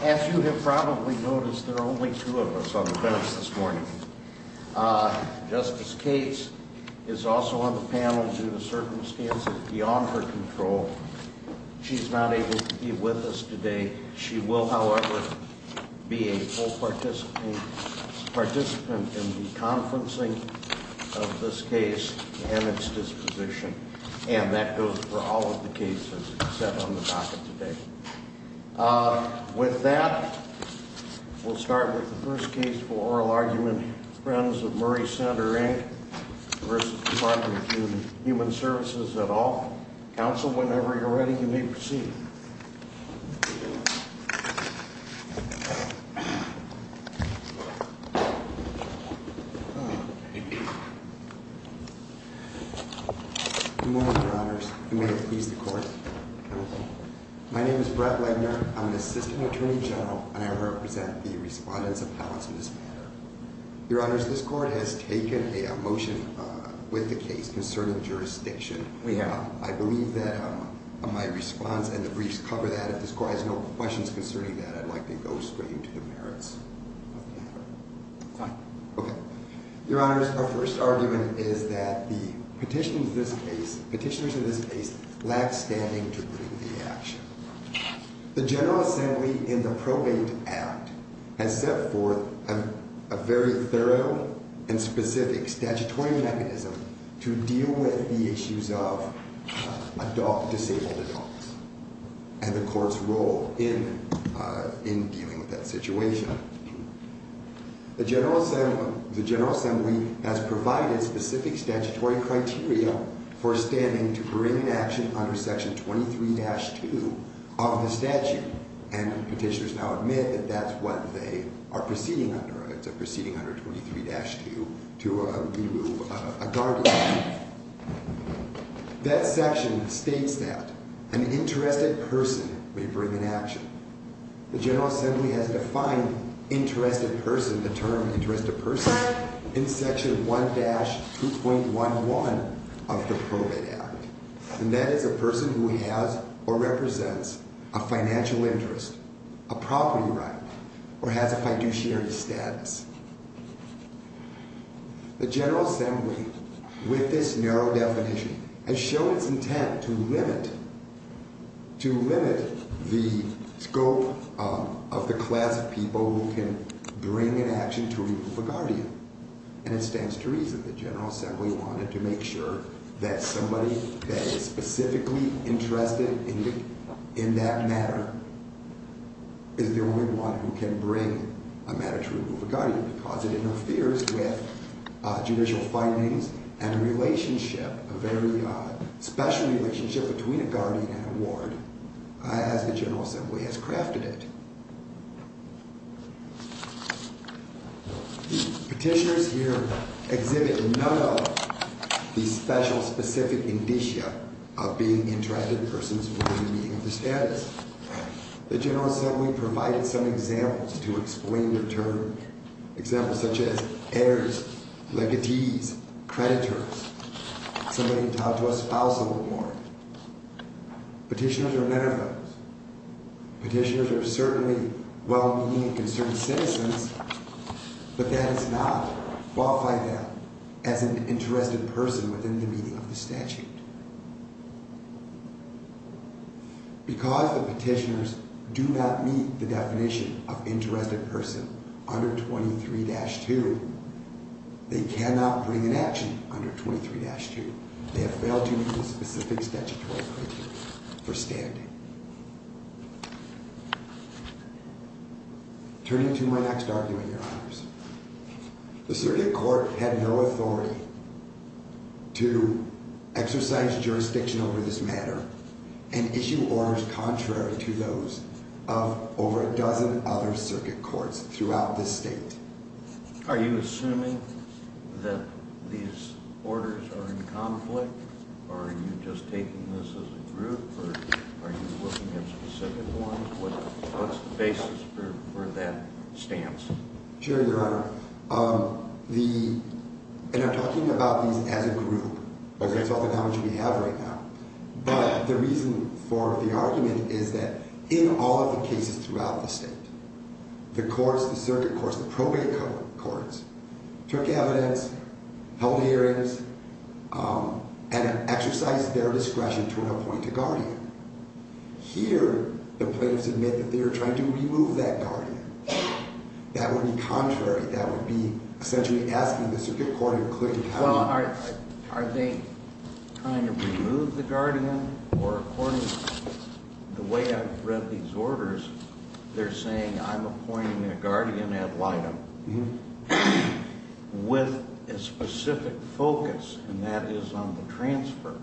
As you have probably noticed, there are only two of us on the bench this morning. Justice Cates is also on the panel due to circumstances beyond her control. She's not able to be with us today. She will, however, be a full participant in the conferencing of this case and its disposition. And that goes for all of the cases set on the docket today. With that, we'll start with the first case for oral argument. Friends of Murray Center Inc. v. Dept. of Human Services at all. Counsel, whenever you're ready, you may proceed. Good morning, Your Honors. I'm going to please the Court. My name is Brett Legner. I'm the Assistant Attorney General, and I represent the respondents of House in this matter. Your Honors, this Court has taken a motion with the case concerning jurisdiction. We have. I believe that my response and the briefs cover that. If this Court has no questions concerning that, I'd like to go straight into the merits of the matter. Fine. Okay. Your Honors, our first argument is that the petitioners of this case lack standing to bring the action. The General Assembly in the Probate Act has set forth a very thorough and specific statutory mechanism to deal with the issues of disabled adults and the Court's role in dealing with that situation. The General Assembly has provided specific statutory criteria for standing to bring an action under Section 23-2 of the statute, and petitioners now admit that that's what they are proceeding under. It's a proceeding under 23-2 to remove a guardian. That section states that an interested person may bring an action. The General Assembly has defined interested person, the term interested person, in Section 1-2.11 of the Probate Act, and that is a person who has or represents a financial interest, a property right, or has a fiduciary status. The General Assembly, with this narrow definition, has shown its intent to limit the scope of the class of people who can bring an action to remove a guardian, and it stands to reason the General Assembly wanted to make sure that somebody that is specifically interested in that matter is the only one who can bring a matter to remove a guardian because it interferes with judicial findings and a relationship, a very special relationship, between a guardian and a ward as the General Assembly has crafted it. Petitioners here exhibit none of the special specific indicia of being interested persons within the meaning of the status. The General Assembly provided some examples to explain the term, examples such as heirs, legatees, creditors, somebody entitled to a spousal award. Petitioners are metaphors. Petitioners are certainly well-meaning and concerned citizens, but that does not qualify them as an interested person within the meaning of the statute. Because the petitioners do not meet the definition of interested person under 23-2, they cannot bring an action under 23-2. They have failed to meet the specific statutory criteria for standing. Turning to my next argument, Your Honors, the circuit court had no authority to exercise jurisdiction over this matter and issue orders contrary to those of over a dozen other circuit courts throughout this state. Are you assuming that these orders are in conflict, or are you just taking this as a group, or are you looking at specific ones? What's the basis for that stance? Sure, Your Honor. And I'm talking about these as a group. That's often how much we have right now. But the reason for the argument is that in all of the cases throughout the state, the courts, the circuit courts, the probate courts, took evidence, held hearings, and exercised their discretion to appoint a guardian. Here, the plaintiffs admit that they are trying to remove that guardian. That would be contrary. That would be essentially asking the circuit court to include a guardian. Well, are they trying to remove the guardian, or according to the way I've read these orders, they're saying I'm appointing a guardian ad litem with a specific focus, and that is on the transfer.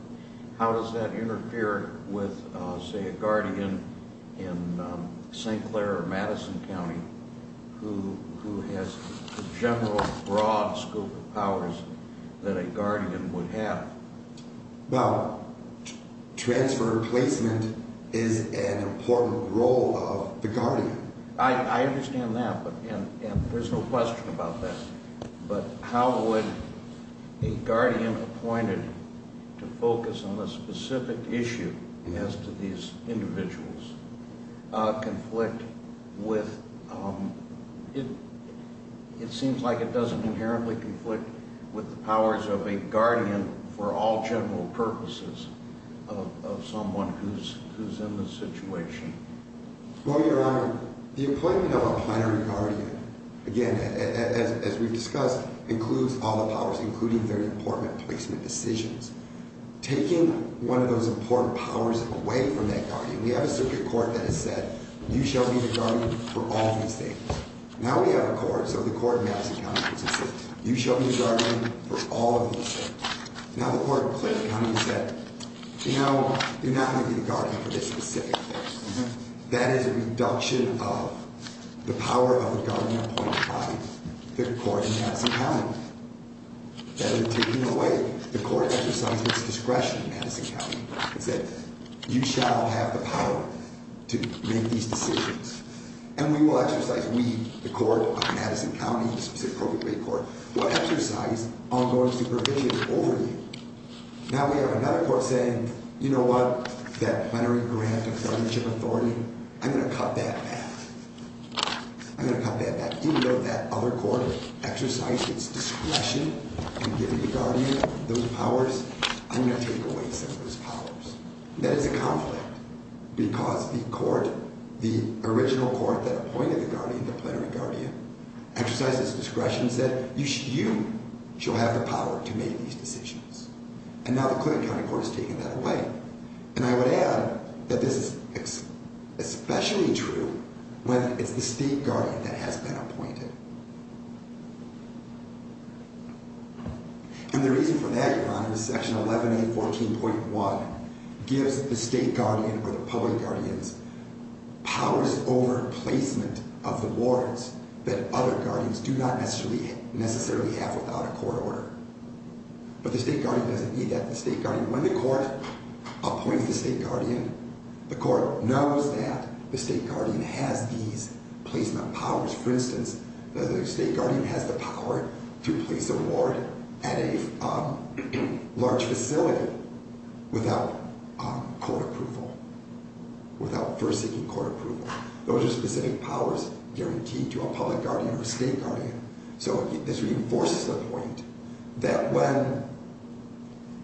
How does that interfere with, say, a guardian in St. Clair or Madison County who has the general broad scope of powers that a guardian would have? Well, transfer and placement is an important role of the guardian. I understand that, and there's no question about that. But how would a guardian appointed to focus on a specific issue as to these individuals conflict with – it seems like it doesn't inherently conflict with the powers of a guardian for all general purposes of someone who's in the situation. Well, Your Honor, the appointment of a primary guardian, again, as we've discussed, includes all the powers, including their important placement decisions. Taking one of those important powers away from that guardian – we have a circuit court that has said you shall be the guardian for all these things. Now we have a court, so the court in Madison County, which has said you shall be the guardian for all of these things. Now the court in Clair County has said, you know, you're not going to be the guardian for this specific person. That is a reduction of the power of the guardian appointed by the court in Madison County. That has been taken away. The court exercised its discretion in Madison County. It said you shall have the power to make these decisions. And we will exercise – we, the court of Madison County, the specific appropriate court, will exercise ongoing supervision over you. Now we have another court saying, you know what? That plenary grant of guardianship authority, I'm going to cut that back. I'm going to cut that back. Even though that other court exercised its discretion in giving the guardian those powers, I'm going to take away some of those powers. That is a conflict because the court, the original court that appointed the guardian, the plenary guardian, exercised its discretion and said you shall have the power to make these decisions. And now the Clinton County Court has taken that away. And I would add that this is especially true when it's the state guardian that has been appointed. And the reason for that, Your Honor, is Section 11A14.1 gives the state guardian or the public guardians powers over placement of the boards that other guardians do not necessarily have without a court order. But the state guardian doesn't need that. The state guardian, when the court appoints the state guardian, the court knows that the state guardian has these placement powers. For instance, the state guardian has the power to place a board at a large facility without court approval, without first seeking court approval. Those are specific powers guaranteed to a public guardian or a state guardian. So this reinforces the point that when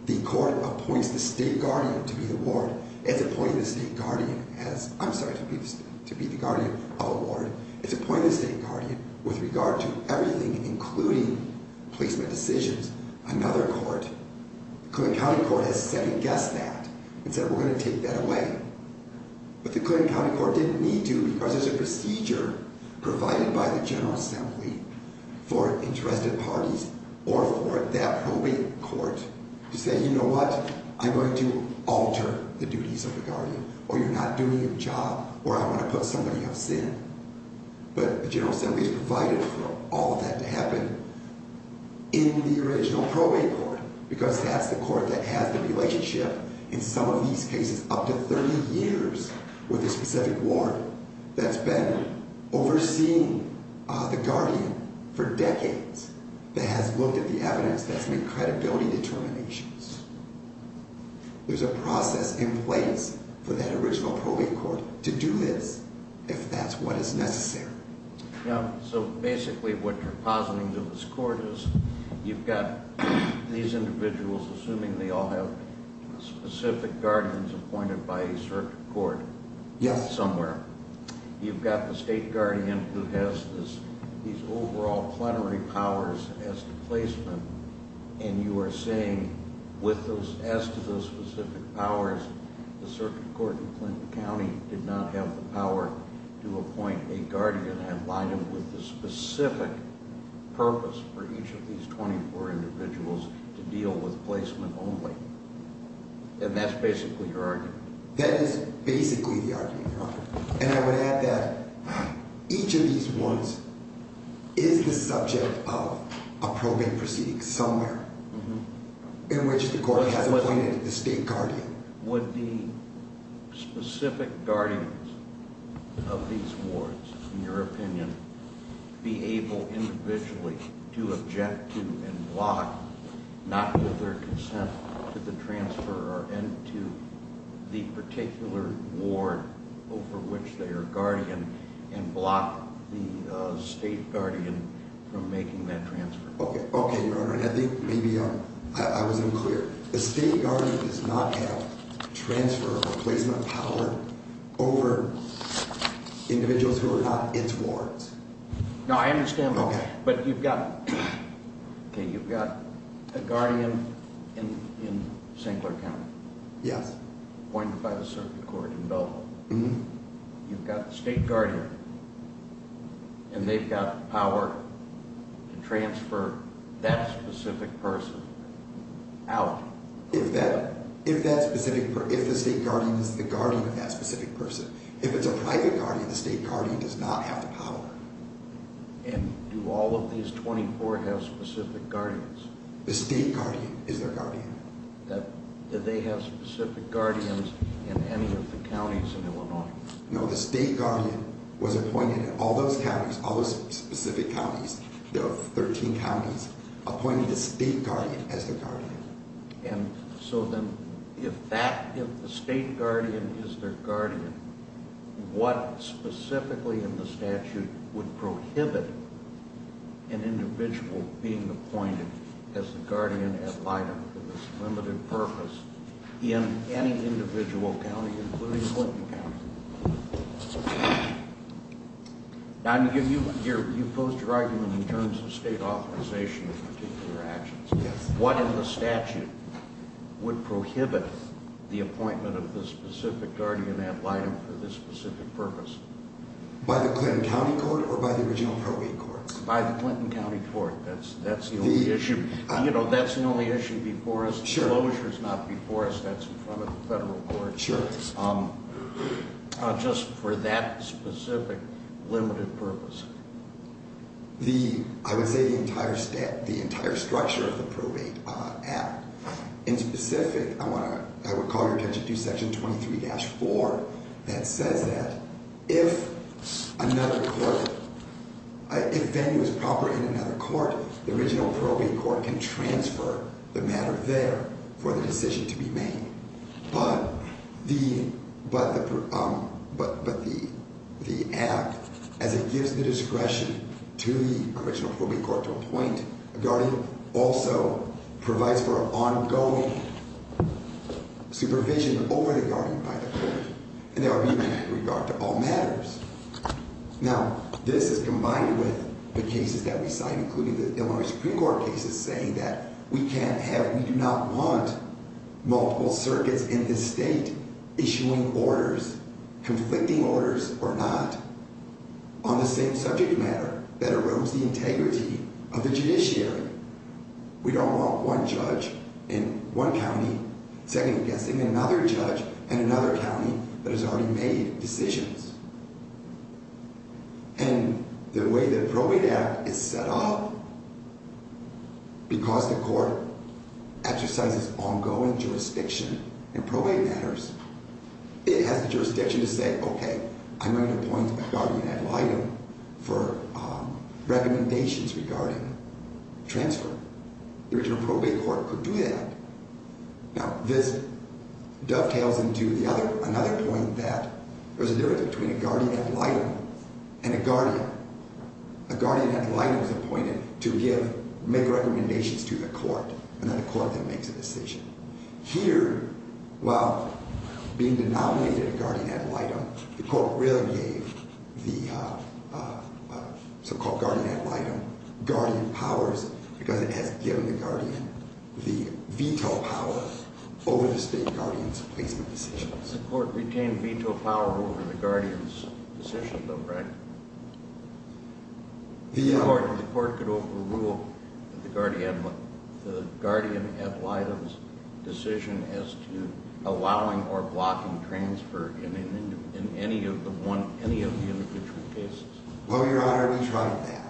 the court appoints the state guardian to be the ward, it's appointing the state guardian as, I'm sorry, to be the guardian of a ward, it's appointing the state guardian with regard to everything including placement decisions, another court. The Clinton County Court has second-guessed that and said we're going to take that away. But the Clinton County Court didn't need to because there's a procedure provided by the General Assembly for interested parties or for that probate court to say, you know what, I'm going to alter the duties of the guardian or you're not doing your job or I want to put somebody of sin. But the General Assembly has provided for all of that to happen in the original probate court because that's the court that has the relationship in some of these cases up to 30 years with a specific ward that's been overseeing the guardian for decades, that has looked at the evidence, that's made credibility determinations. There's a process in place for that original probate court to do this if that's what is necessary. So basically what you're positing to this court is you've got these individuals, assuming they all have specific guardians appointed by a certain court somewhere. You've got the state guardian who has these overall plenary powers as to placement and you are saying as to those specific powers, the circuit court in Clinton County did not have the power to appoint a guardian and line them with the specific purpose for each of these 24 individuals to deal with placement only. And that's basically your argument? That is basically the argument, Your Honor. And I would add that each of these ones is the subject of a probate proceeding somewhere in which the court has appointed the state guardian. Would the specific guardians of these wards, in your opinion, be able individually to object to and block, not with their consent, to the transfer into the particular ward over which they are guardian and block the state guardian from making that transfer? Okay, Your Honor. I think maybe I was unclear. The state guardian does not have transfer or placement power over individuals who are not its wards. No, I understand. Okay. But you've got a guardian in St. Clair County. Yes. Appointed by the circuit court in Belleville. Mm-hmm. You've got the state guardian, and they've got power to transfer that specific person out. If the state guardian is the guardian of that specific person. If it's a private guardian, the state guardian does not have the power. And do all of these 24 have specific guardians? The state guardian is their guardian. Do they have specific guardians in any of the counties in Illinois? No, the state guardian was appointed in all those counties, all those specific counties. There are 13 counties appointed a state guardian as their guardian. And so then if that, if the state guardian is their guardian, what specifically in the statute would prohibit an individual being appointed as the guardian at Biden for this limited purpose in any individual county, including Clinton County? I'm going to give you, you posed your argument in terms of state authorization of particular actions. Yes. What in the statute would prohibit the appointment of the specific guardian at Biden for this specific purpose? By the Clinton County Court or by the original probate courts? By the Clinton County Court. That's the only issue. You know, that's the only issue before us. Sure. The closure is not before us. That's in front of the federal courts. Sure. Just for that specific limited purpose. The, I would say the entire, the entire structure of the probate act. In specific, I want to, I would call your attention to section 23-4 that says that if another court, if venue is proper in another court, the original probate court can transfer the matter there for the decision to be made. But the, but the, but the, the act as it gives the discretion to the original probate court to appoint a guardian also provides for an ongoing supervision over the guardian by the court. And that would be in regard to all matters. Now, this is combined with the cases that we signed, including the Illinois Supreme Court cases saying that we can't have, we do not want multiple circuits in this state issuing orders, conflicting orders or not on the same subject matter that erodes the integrity of the judiciary. We don't want one judge in one county second guessing another judge in another county that has already made decisions. And the way the probate act is set up, because the court exercises ongoing jurisdiction in probate matters, it has the jurisdiction to say, okay, I'm going to appoint a guardian ad litem for recommendations regarding transfer. The original probate court could do that. Now, this dovetails into the other, another point that there's a difference between a guardian ad litem and a guardian. A guardian ad litem is appointed to give, make recommendations to the court, and then the court then makes a decision. Here, while being denominated a guardian ad litem, the court really gave the so-called guardian ad litem guardian powers because it has given the guardian the veto power over the state guardian's placement decisions. The court retained veto power over the guardian's decision, though, right? The court could overrule the guardian ad litem's decision as to allowing or blocking transfer in any of the individual cases. Well, Your Honor, we tried that.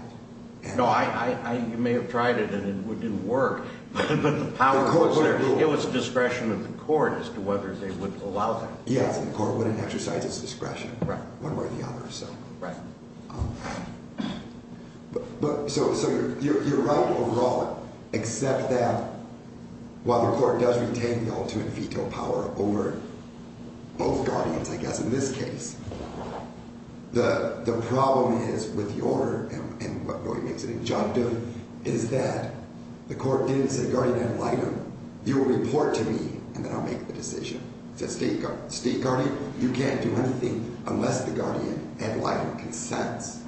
No, I may have tried it, and it didn't work. But the power was there. It was discretion of the court as to whether they would allow that. Yes, and the court wouldn't exercise its discretion one way or the other, so. Right. So you're right overall, except that while the court does retain the ultimate veto power over both guardians, I guess, in this case, the problem is with the order and what really makes it injunctive is that the court didn't say guardian ad litem. You will report to me, and then I'll make the decision. The state guardian, you can't do anything unless the guardian ad litem consents.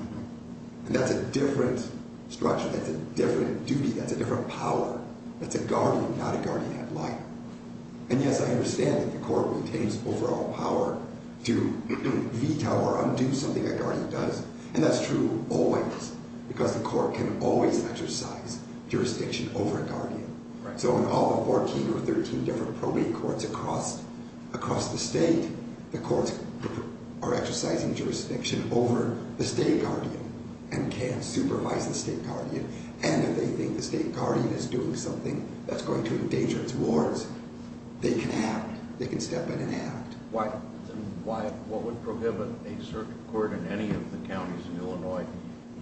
And that's a different structure. That's a different duty. That's a different power. That's a guardian, not a guardian ad litem. And, yes, I understand that the court retains overall power to veto or undo something a guardian does, and that's true always because the court can always exercise jurisdiction over a guardian. Right. So in all the 14 or 13 different probate courts across the state, the courts are exercising jurisdiction over the state guardian and can't supervise the state guardian. And if they think the state guardian is doing something that's going to endanger its wards, they can act. They can step in and act. Why, what would prohibit a circuit court in any of the counties in Illinois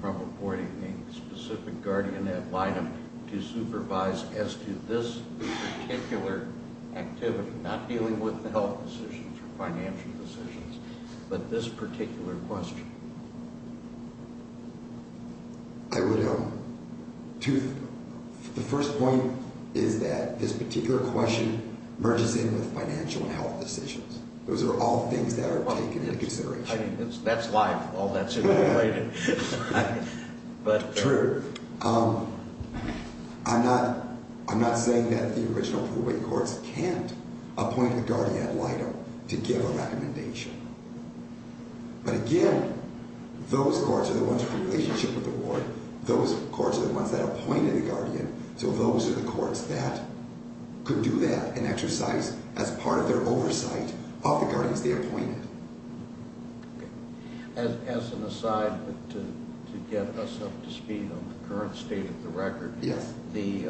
from reporting a specific guardian ad litem to supervise as to this particular activity, not dealing with the health decisions or financial decisions, but this particular question? I would, the first point is that this particular question merges in with financial and health decisions. Those are all things that are taken into consideration. That's why all that's in the writing. True. I'm not saying that the original probate courts can't appoint a guardian ad litem to give a recommendation. But again, those courts are the ones in relationship with the ward. Those courts are the ones that appointed a guardian, so those are the courts that could do that and exercise as part of their oversight of the guardians they appointed. As an aside, but to get us up to speed on the current state of the record. Yes. The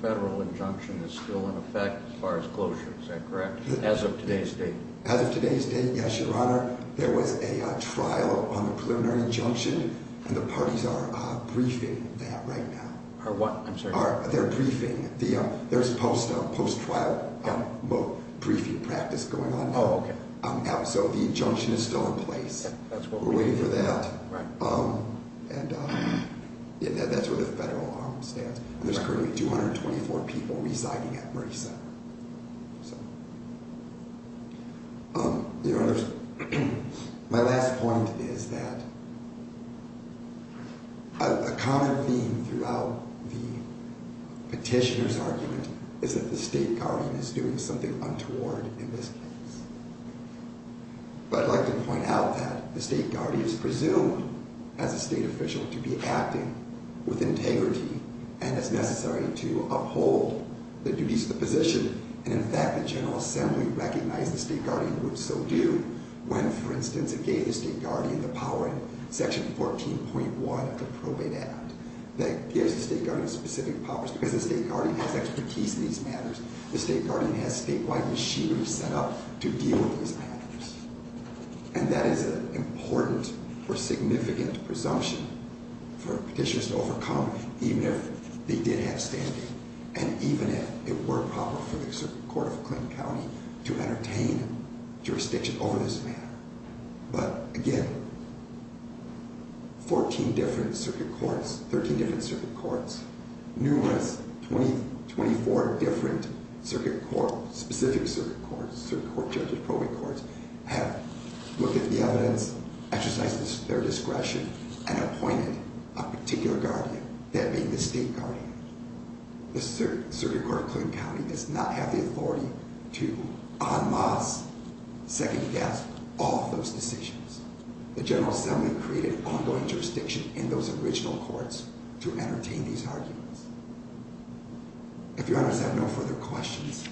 federal injunction is still in effect as far as closure, is that correct, as of today's date? As of today's date, yes, Your Honor. There was a trial on the preliminary injunction, and the parties are briefing that right now. Are what, I'm sorry? They're briefing. There's a post-trial briefing practice going on now. Oh, okay. So the injunction is still in place. We're waiting for that. Right. And that's where the federal arm stands. There's currently 224 people residing at Murray Center. Your Honor, my last point is that a common theme throughout the petitioner's argument is that the state guardian is doing something untoward in this case. But I'd like to point out that the state guardian is presumed, as a state official, to be acting with integrity and is necessary to uphold the duties of the position. And in fact, the General Assembly recognized the state guardian would so do when, for instance, it gave the state guardian the power in Section 14.1 of the Probate Act that gives the state guardian specific powers because the state guardian has expertise in these matters. The state guardian has statewide machinery set up to deal with these matters. And that is an important or significant presumption for petitioners to overcome, even if they did have standing and even if it were proper for the Circuit Court of Clinton County to entertain jurisdiction over this matter. But again, 14 different circuit courts, 13 different circuit courts, numerous, 24 different circuit courts, specific circuit courts, circuit court judges, probate courts, have looked at the evidence, exercised their discretion, and appointed a particular guardian, that being the state guardian. The Circuit Court of Clinton County does not have the authority to unmask, second-guess, all of those decisions. The General Assembly created ongoing jurisdiction in those original courts to entertain these arguments. If your Honor does have no further questions...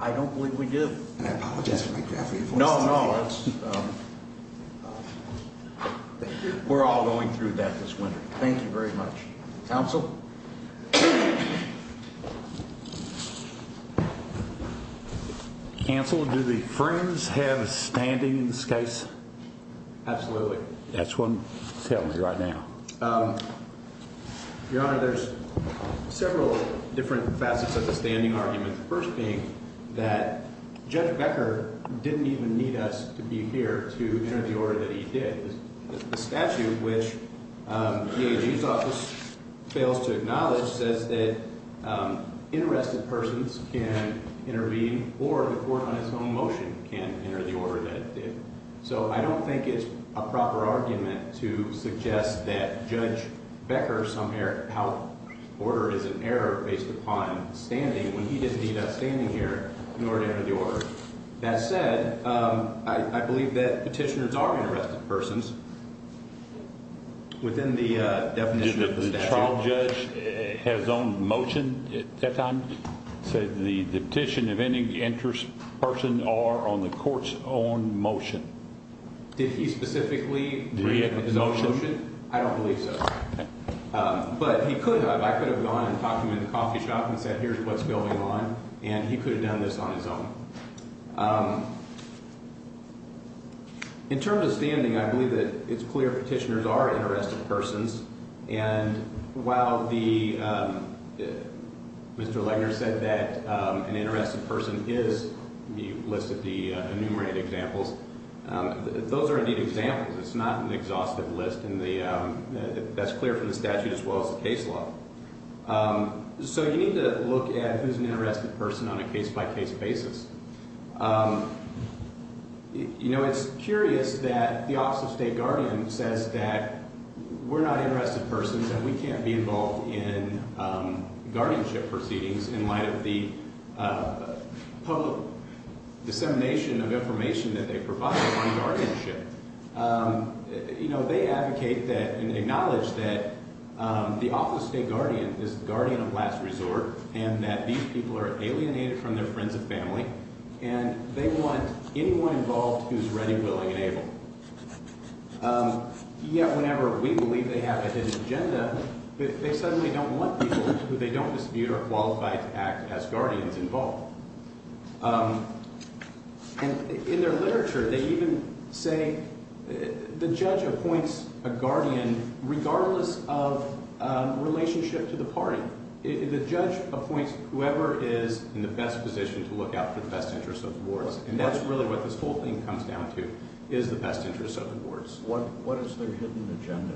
I don't believe we do. And I apologize for my gravely voiced opinion. No, no. We're all going through that this winter. Thank you very much. Counsel? Counsel, do the Friends have a standing in this case? Absolutely. That's what's happening right now. Your Honor, there's several different facets of the standing argument. The first being that Judge Becker didn't even need us to be here to enter the order that he did. The statute, which the AG's office fails to acknowledge, says that interested persons can intervene, or the court on its own motion can enter the order that it did. So I don't think it's a proper argument to suggest that Judge Becker somehow ordered, or there was an error based upon standing when he didn't need us standing here in order to enter the order. That said, I believe that petitioners are interested persons within the definition of the statute. Did the trial judge have his own motion at that time? It said the petition of any interested person are on the court's own motion. Did he specifically bring up his own motion? I don't believe so. But he could have. I could have gone and talked to him in the coffee shop and said, here's what's going on, and he could have done this on his own. In terms of standing, I believe that it's clear petitioners are interested persons, and while Mr. Legner said that an interested person is, you listed the enumerated examples, those are indeed examples. It's not an exhaustive list, and that's clear from the statute as well as the case law. So you need to look at who's an interested person on a case-by-case basis. You know, it's curious that the Office of State Guardian says that we're not interested persons and we can't be involved in guardianship proceedings in light of the public dissemination of information that they provide on guardianship. You know, they advocate and acknowledge that the Office of State Guardian is the guardian of last resort and that these people are alienated from their friends and family, and they want anyone involved who's ready, willing, and able. Yet whenever we believe they have a hidden agenda, they suddenly don't want people who they don't dispute are qualified to act as guardians involved. And in their literature, they even say the judge appoints a guardian regardless of relationship to the party. The judge appoints whoever is in the best position to look out for the best interests of the boards, and that's really what this whole thing comes down to is the best interests of the boards. What is their hidden agenda?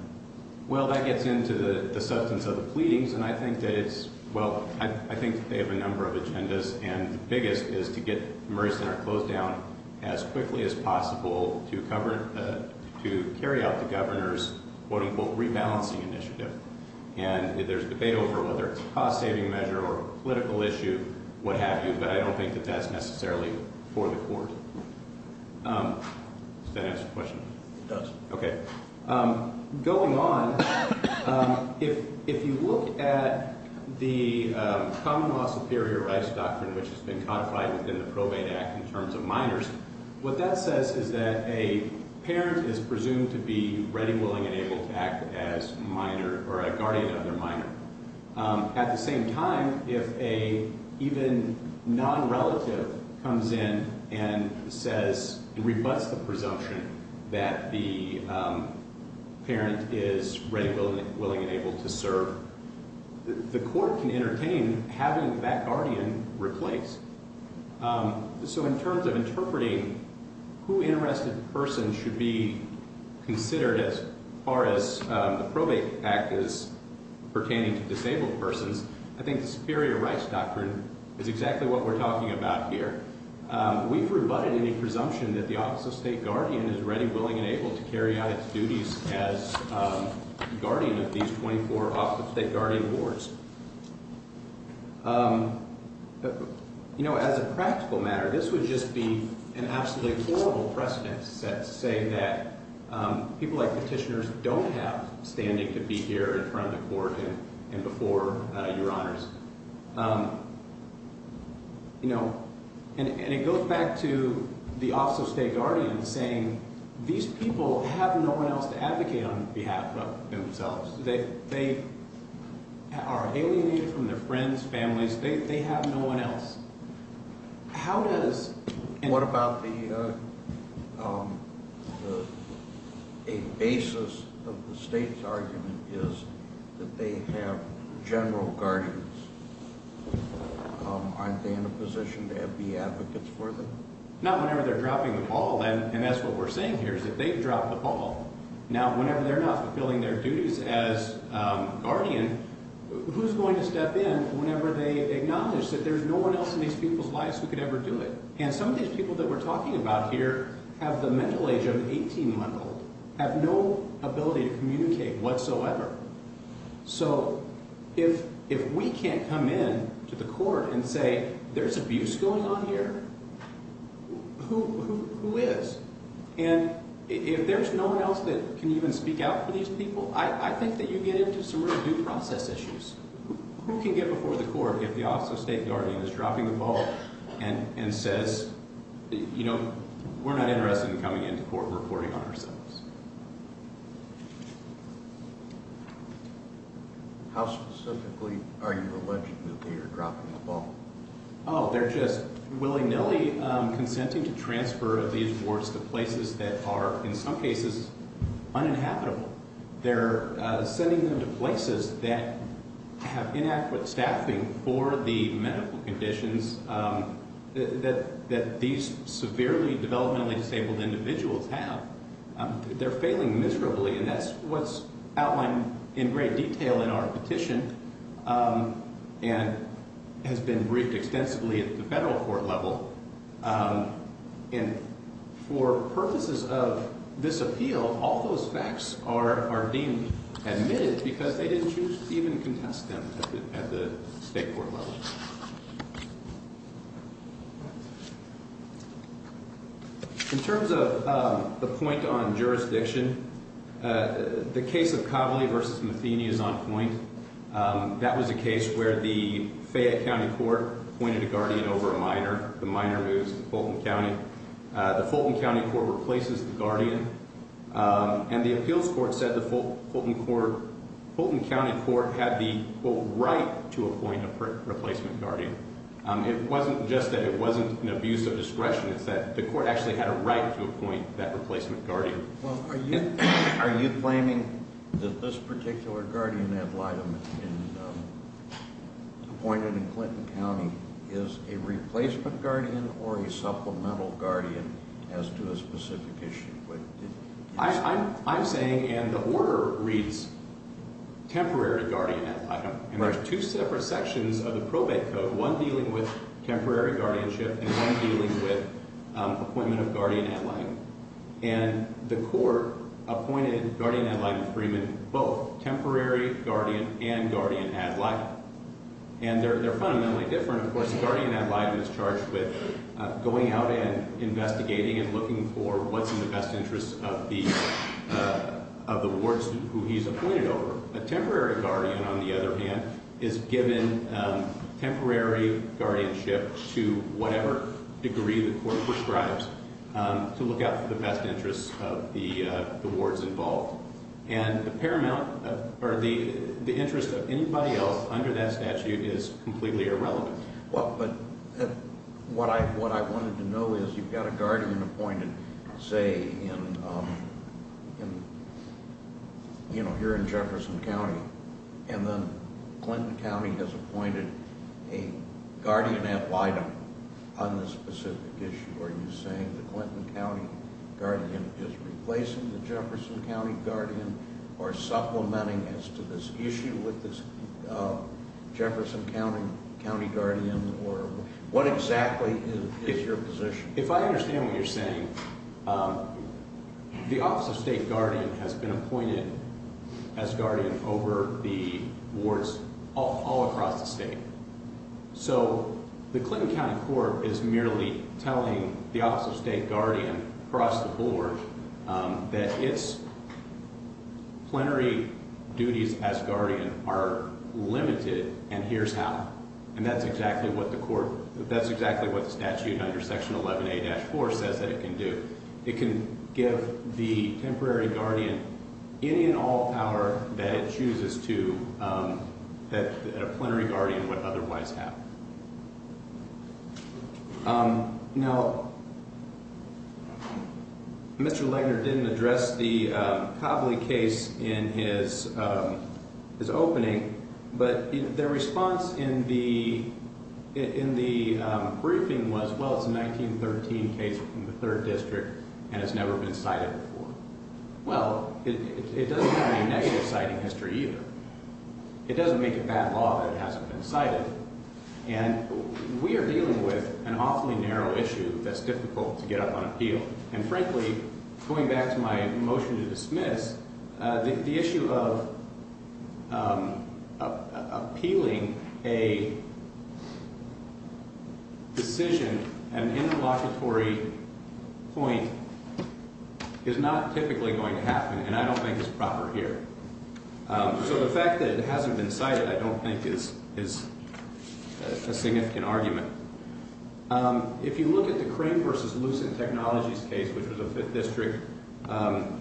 Well, that gets into the substance of the pleadings, and I think that it's, well, I think they have a number of agendas, and the biggest is to get the Murray Center closed down as quickly as possible to carry out the governor's quote-unquote rebalancing initiative. And there's debate over whether it's a cost-saving measure or a political issue, what have you, but I don't think that that's necessarily for the court. Does that answer your question? It does. Okay. Going on, if you look at the common law superior rights doctrine, which has been codified within the Probate Act in terms of minors, what that says is that a parent is presumed to be ready, willing, and able to act as minor or a guardian of their minor. At the same time, if an even non-relative comes in and says, rebuts the presumption that the parent is ready, willing, and able to serve, the court can entertain having that guardian replaced. So in terms of interpreting who an arrested person should be considered as far as the Probate Act is pertaining to disabled persons, I think the superior rights doctrine is exactly what we're talking about here. We've rebutted any presumption that the Office of State Guardian is ready, willing, and able to carry out its duties as guardian of these 24 Office of State Guardian boards. You know, as a practical matter, this would just be an absolutely horrible precedent to say that people like petitioners don't have standing to be here in front of the court and before your honors. You know, and it goes back to the Office of State Guardian saying these people have no one else to advocate on behalf of themselves. They are alienated from their friends, families. They have no one else. How does – What about the – a basis of the state's argument is that they have general guardians. Aren't they in a position to be advocates for them? Not whenever they're dropping the ball, then, and that's what we're saying here is that they've dropped the ball. Now, whenever they're not fulfilling their duties as guardian, who's going to step in whenever they acknowledge that there's no one else in these people's lives who could ever do it? And some of these people that we're talking about here have the mental age of 18-month-old, have no ability to communicate whatsoever. So if we can't come in to the court and say there's abuse going on here, who is? And if there's no one else that can even speak out for these people, I think that you get into some really due process issues. Who can get before the court if the Office of State Guardian is dropping the ball and says, you know, we're not interested in coming into court and reporting on ourselves? How specifically are you alleging that they are dropping the ball? Oh, they're just willy-nilly consenting to transfer these wards to places that are, in some cases, uninhabitable. They're sending them to places that have inadequate staffing for the medical conditions that these severely developmentally disabled individuals have. They're failing miserably, and that's what's outlined in great detail in our petition and has been briefed extensively at the federal court level. And for purposes of this appeal, all those facts are deemed admitted because they didn't choose to even contest them at the state court level. In terms of the point on jurisdiction, the case of Coveley v. Matheny is on point. That was a case where the Fayette County Court appointed a guardian over a minor. The minor moves to Fulton County. The Fulton County Court replaces the guardian. And the appeals court said the Fulton County Court had the, quote, right to appoint a replacement guardian. It wasn't just that it wasn't an abuse of discretion. It's that the court actually had a right to appoint that replacement guardian. Well, are you claiming that this particular guardian ad litem appointed in Clinton County is a replacement guardian or a supplemental guardian as to a specific issue? I'm saying, and the order reads, temporary guardian ad litem. And there's two separate sections of the probate code, one dealing with temporary guardianship and one dealing with appointment of guardian ad litem. And the court appointed guardian ad litem freemen both, temporary guardian and guardian ad litem. And they're fundamentally different. Of course, the guardian ad litem is charged with going out and investigating and looking for what's in the best interest of the wards who he's appointed over. A temporary guardian, on the other hand, is given temporary guardianship to whatever degree the court prescribes to look out for the best interests of the wards involved. And the interest of anybody else under that statute is completely irrelevant. Well, but what I wanted to know is you've got a guardian appointed, say, in, you know, here in Jefferson County, and then Clinton County has appointed a guardian ad litem on this specific issue. Are you saying the Clinton County guardian is replacing the Jefferson County guardian or supplementing as to this issue with this Jefferson County guardian? Or what exactly is your position? If I understand what you're saying, the Office of State Guardian has been appointed as guardian over the wards all across the state. So the Clinton County court is merely telling the Office of State Guardian across the board that its plenary duties as guardian are limited and here's how. And that's exactly what the statute under Section 11A-4 says that it can do. It can give the temporary guardian any and all power that it chooses to that a plenary guardian would otherwise have. Now, Mr. Legner didn't address the Copley case in his opening, but their response in the briefing was, well, it's a 1913 case from the 3rd District and it's never been cited before. Well, it doesn't have any negative citing history either. It doesn't make a bad law that it hasn't been cited. And we are dealing with an awfully narrow issue that's difficult to get up on appeal. And frankly, going back to my motion to dismiss, the issue of appealing a decision, an interlocutory point, is not typically going to happen and I don't think it's proper here. So the fact that it hasn't been cited I don't think is a significant argument. If you look at the Crane v. Lucent Technologies case, which was a 5th District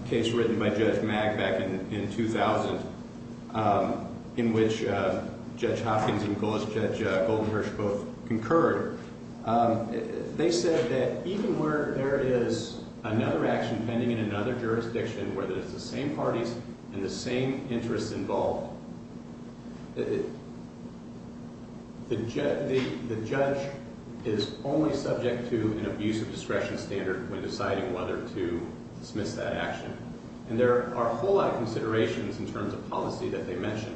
case written by Judge Mag back in 2000, in which Judge Hopkins and Judge Goldenberg both concurred, they said that even where there is another action pending in another jurisdiction where there's the same parties and the same interests involved, the judge is only subject to an abuse of discretion standard when deciding whether to dismiss that action. And there are a whole lot of considerations in terms of policy that they mentioned.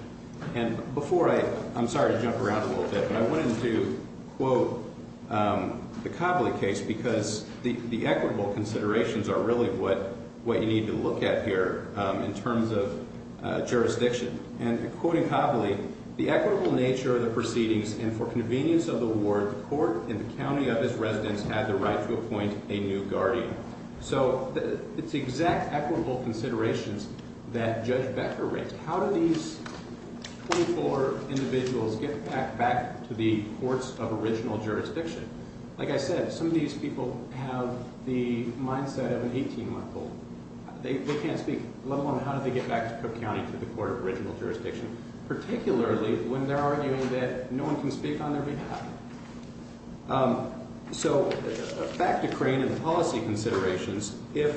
I'm sorry to jump around a little bit, but I wanted to quote the Copley case because the equitable considerations are really what you need to look at here in terms of jurisdiction. And quoting Copley, So it's exact equitable considerations that Judge Becker raised. How do these 24 individuals get back to the courts of original jurisdiction? Like I said, some of these people have the mindset of an 18-month-old. They can't speak, let alone how do they get back to Cook County to the court of original jurisdiction, particularly when they're arguing that no one can speak on their behalf. So back to Crane and policy considerations. If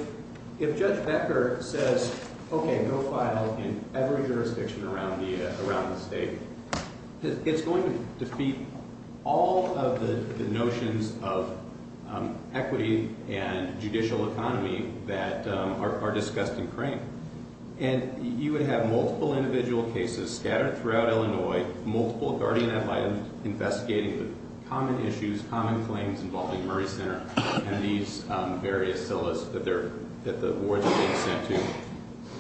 Judge Becker says, okay, go file in every jurisdiction around the state, it's going to defeat all of the notions of equity and judicial economy that are discussed in Crane. And you would have multiple individual cases scattered throughout Illinois, multiple guardian-advised investigating the common issues, common claims involving Murray Center and these various CILAs that the wards are being sent to.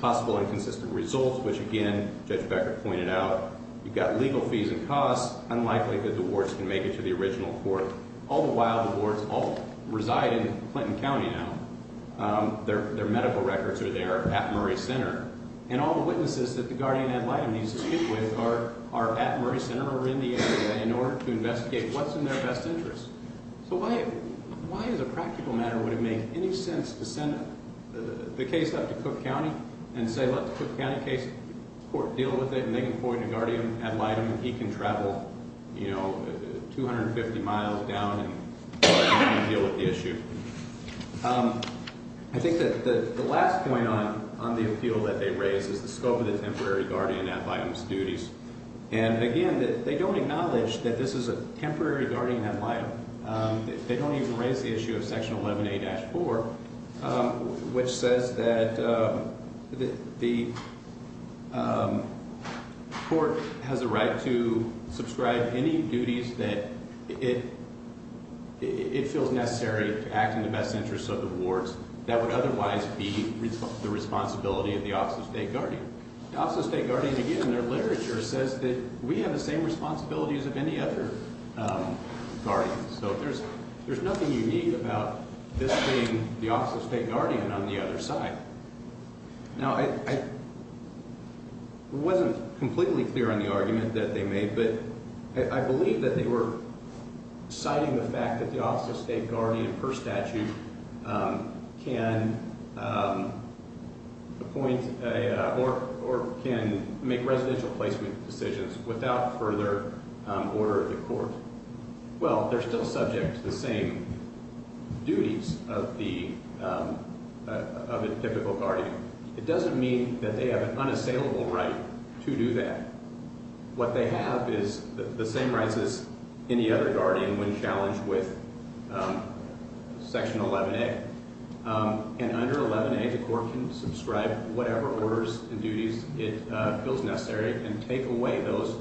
Possible inconsistent results, which again, Judge Becker pointed out. You've got legal fees and costs. Unlikely that the wards can make it to the original court. All the while, the wards all reside in Clinton County now. Their medical records are there at Murray Center. And all the witnesses that the guardian-ad litem needs to speak with are at Murray Center or in the area in order to investigate what's in their best interest. So why as a practical matter would it make any sense to send the case up to Cook County and say, let the Cook County case court deal with it and they can point a guardian-ad litem and he can travel 250 miles down and deal with the issue? I think that the last point on the appeal that they raise is the scope of the temporary guardian-ad litem's duties. And again, they don't acknowledge that this is a temporary guardian-ad litem. They don't even raise the issue of section 11A-4, which says that the court has a right to subscribe any duties that it feels necessary to act in the best interest of the wards that would otherwise be the responsibility of the Office of State Guardian. The Office of State Guardian, again, their literature says that we have the same responsibilities of any other guardian. So there's nothing unique about this being the Office of State Guardian on the other side. Now, I wasn't completely clear on the argument that they made, but I believe that they were citing the fact that the Office of State Guardian, per statute, can appoint or can make residential placement decisions without further order of the court. Well, they're still subject to the same duties of a typical guardian. It doesn't mean that they have an unassailable right to do that. What they have is the same rights as any other guardian when challenged with section 11A. And under 11A, the court can subscribe whatever orders and duties it feels necessary and take away those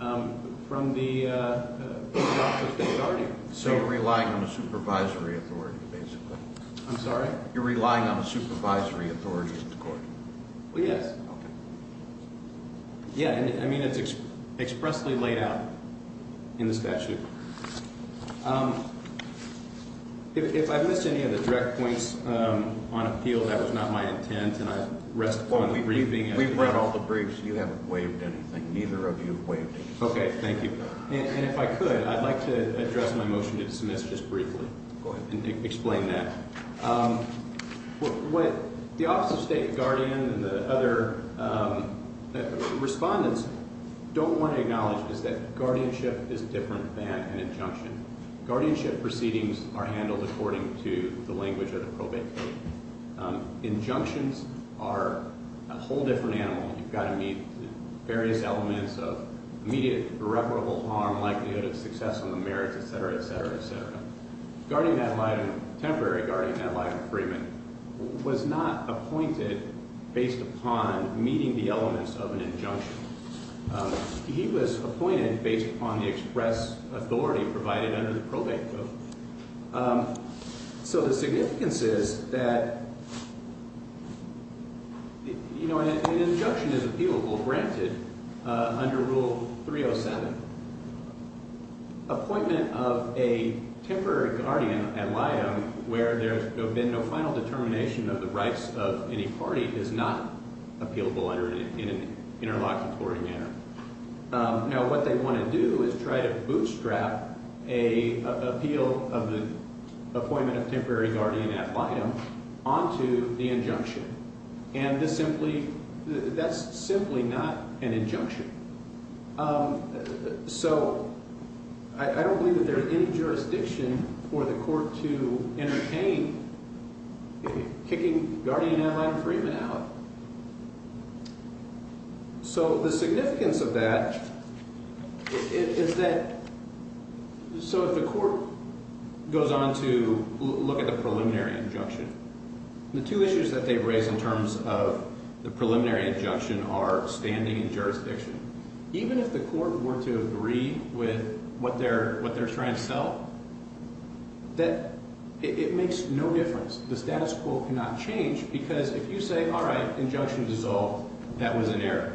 from the Office of State Guardian. So you're relying on a supervisory authority, basically. I'm sorry? You're relying on a supervisory authority in the court. Well, yes. Okay. Yeah. I mean, it's expressly laid out in the statute. If I've missed any of the direct points on appeal, that was not my intent, and I rest upon the briefing. We've read all the briefs. You haven't waived anything. Neither of you waived anything. Okay. Thank you. And if I could, I'd like to address my motion to dismiss just briefly and explain that. What the Office of State Guardian and the other respondents don't want to acknowledge is that guardianship is different than an injunction. Guardianship proceedings are handled according to the language of the probate case. Injunctions are a whole different animal. You've got to meet various elements of immediate irreparable harm, likelihood of success on the merits, et cetera, et cetera, et cetera. Temporary guardian ad litem agreement was not appointed based upon meeting the elements of an injunction. He was appointed based upon the express authority provided under the probate code. So the significance is that an injunction is appealable, granted, under Rule 307. Appointment of a temporary guardian ad litem where there's been no final determination of the rights of any party is not appealable in an interlocutory manner. Now, what they want to do is try to bootstrap an appeal of the appointment of temporary guardian ad litem onto the injunction. And this simply – that's simply not an injunction. So I don't believe that there's any jurisdiction for the court to entertain kicking guardian ad litem agreement out. So the significance of that is that – so if the court goes on to look at the preliminary injunction, the two issues that they've raised in terms of the preliminary injunction are standing and jurisdiction. Even if the court were to agree with what they're trying to sell, that – it makes no difference. The status quo cannot change because if you say, all right, injunction dissolved, that was an error.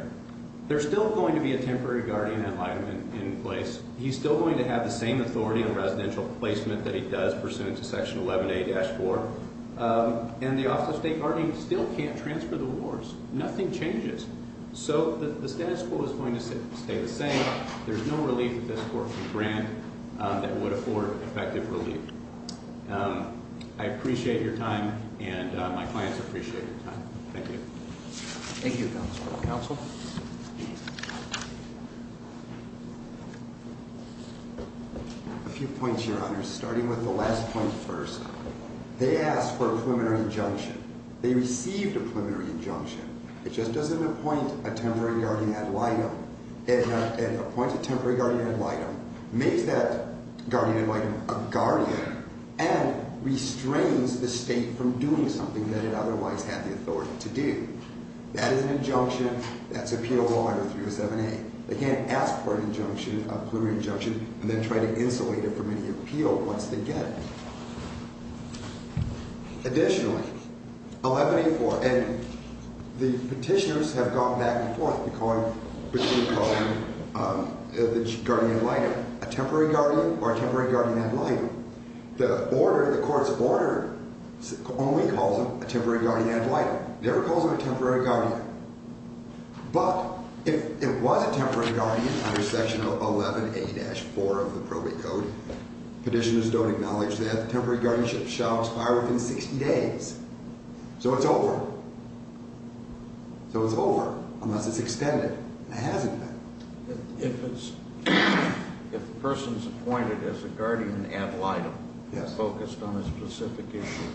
There's still going to be a temporary guardian ad litem in place. He's still going to have the same authority on residential placement that he does pursuant to Section 11A-4. And the Office of State Guarding still can't transfer the wars. Nothing changes. So the status quo is going to stay the same. There's no relief that this court could grant that would afford effective relief. I appreciate your time, and my clients appreciate your time. Thank you. Thank you, Counsel. Counsel? A few points, Your Honor. Starting with the last point first. They asked for a preliminary injunction. They received a preliminary injunction. It just doesn't appoint a temporary guardian ad litem. It appoints a temporary guardian ad litem, makes that guardian ad litem a guardian, and restrains the state from doing something that it otherwise had the authority to do. That is an injunction. That's appeal law under 307A. They can't ask for an injunction, a preliminary injunction, and then try to insulate it from any appeal once they get it. Additionally, 11A-4, and the petitioners have gone back and forth between calling the guardian ad litem a temporary guardian or a temporary guardian ad litem. The order, the court's order only calls them a temporary guardian ad litem. It never calls them a temporary guardian. But if it was a temporary guardian under Section 11A-4 of the probate code, petitioners don't acknowledge that the temporary guardianship shall expire within 60 days. So it's over. So it's over unless it's extended, and it hasn't been. If a person's appointed as a guardian ad litem focused on a specific issue,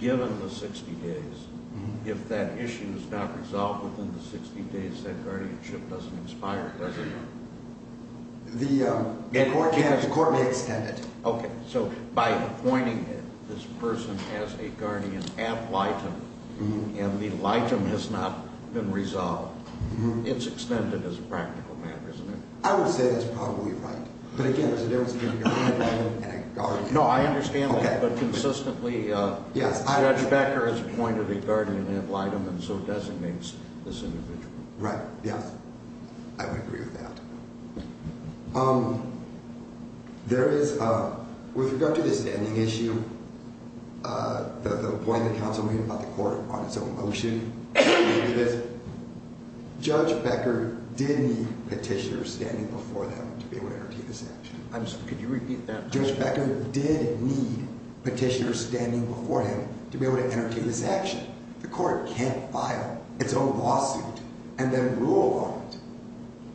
given the 60 days, if that issue is not resolved within the 60 days, that guardianship doesn't expire, does it? The court may extend it. Okay. So by appointing this person as a guardian ad litem and the litem has not been resolved, it's extended as a practical matter, isn't it? I would say that's probably right. But, again, there's a difference between a guardian and a guardian ad litem. No, I understand that. Okay. But consistently, Judge Becker has appointed a guardian ad litem and so designates this individual. Right. Yes. I would agree with that. With regard to the standing issue, the appointment counsel made about the court on its own motion, Judge Becker did need petitioners standing before him to be able to entertain this action. Could you repeat that? Judge Becker did need petitioners standing before him to be able to entertain this action. The court can't file its own lawsuit and then rule on it.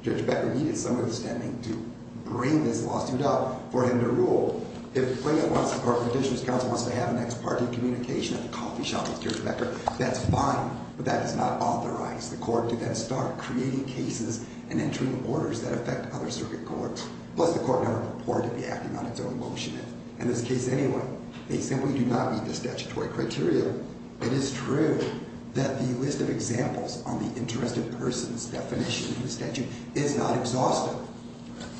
Judge Becker needed someone standing to bring this lawsuit up for him to rule. If a petitioner's counsel wants to have an ex parte communication at the coffee shop with Judge Becker, that's fine. But that is not authorized. The court can then start creating cases and entering orders that affect other circuit courts. Plus, the court never purported to be acting on its own motion. In this case, anyway, they simply do not meet the statutory criteria. It is true that the list of examples on the interest of persons definition in the statute is not exhaustive.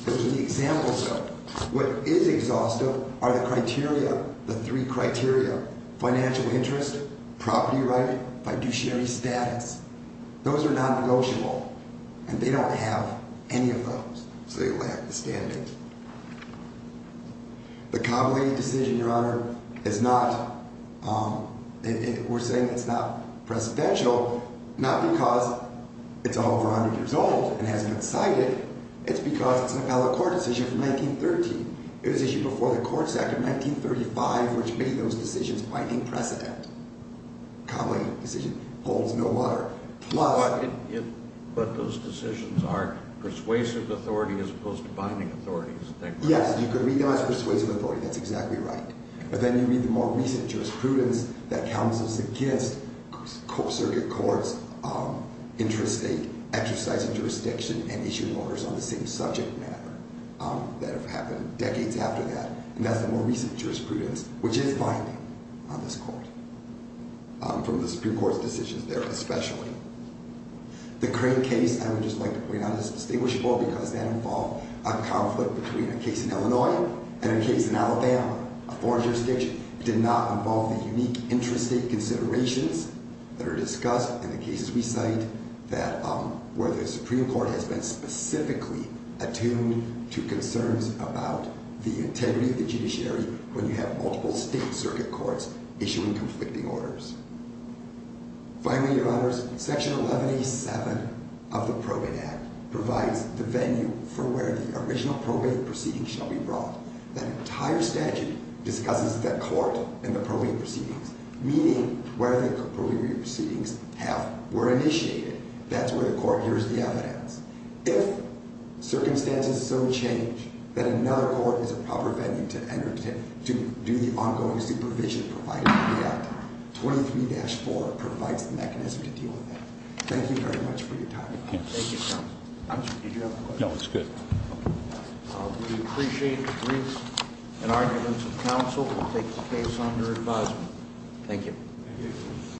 The examples of what is exhaustive are the criteria, the three criteria, financial interest, property right, fiduciary status. Those are non-negotiable. And they don't have any of those. So they lack the standings. The Copley decision, Your Honor, is not, we're saying it's not precedential, not because it's over 100 years old and hasn't been cited. It's because it's an appellate court decision from 1913. It was issued before the Court of 1935, which made those decisions binding precedent. The Copley decision holds no water. But those decisions are persuasive authority as opposed to binding authority, isn't that correct? Yes, you could read them as persuasive authority. That's exactly right. But then you read the more recent jurisprudence that counsels against circuit courts exercising jurisdiction and issuing orders on the same subject matter that have happened decades after that. And that's the more recent jurisprudence, which is binding on this court, from the Supreme Court's decisions there especially. The Crane case, I would just like to point out, is distinguishable because that involved a conflict between a case in Illinois and a case in Alabama, a foreign jurisdiction. It did not involve the unique intrastate considerations that are discussed in the cases we cite where the Supreme Court has been specifically attuned to concerns about the integrity of the judiciary when you have multiple state circuit courts issuing conflicting orders. Finally, Your Honors, Section 1187 of the Probate Act provides the venue for where the original probate proceedings shall be brought. That entire statute discusses the court and the probate proceedings, meaning where the probate proceedings were initiated. That's where the court hears the evidence. If circumstances so change that another court is a proper venue to do the ongoing supervision provided in the act, 23-4 provides the mechanism to deal with that. Thank you very much for your time. Thank you, Your Honors. Did you have a question? No, it's good. We appreciate the briefs and arguments of counsel to take the case under advisement. Thank you.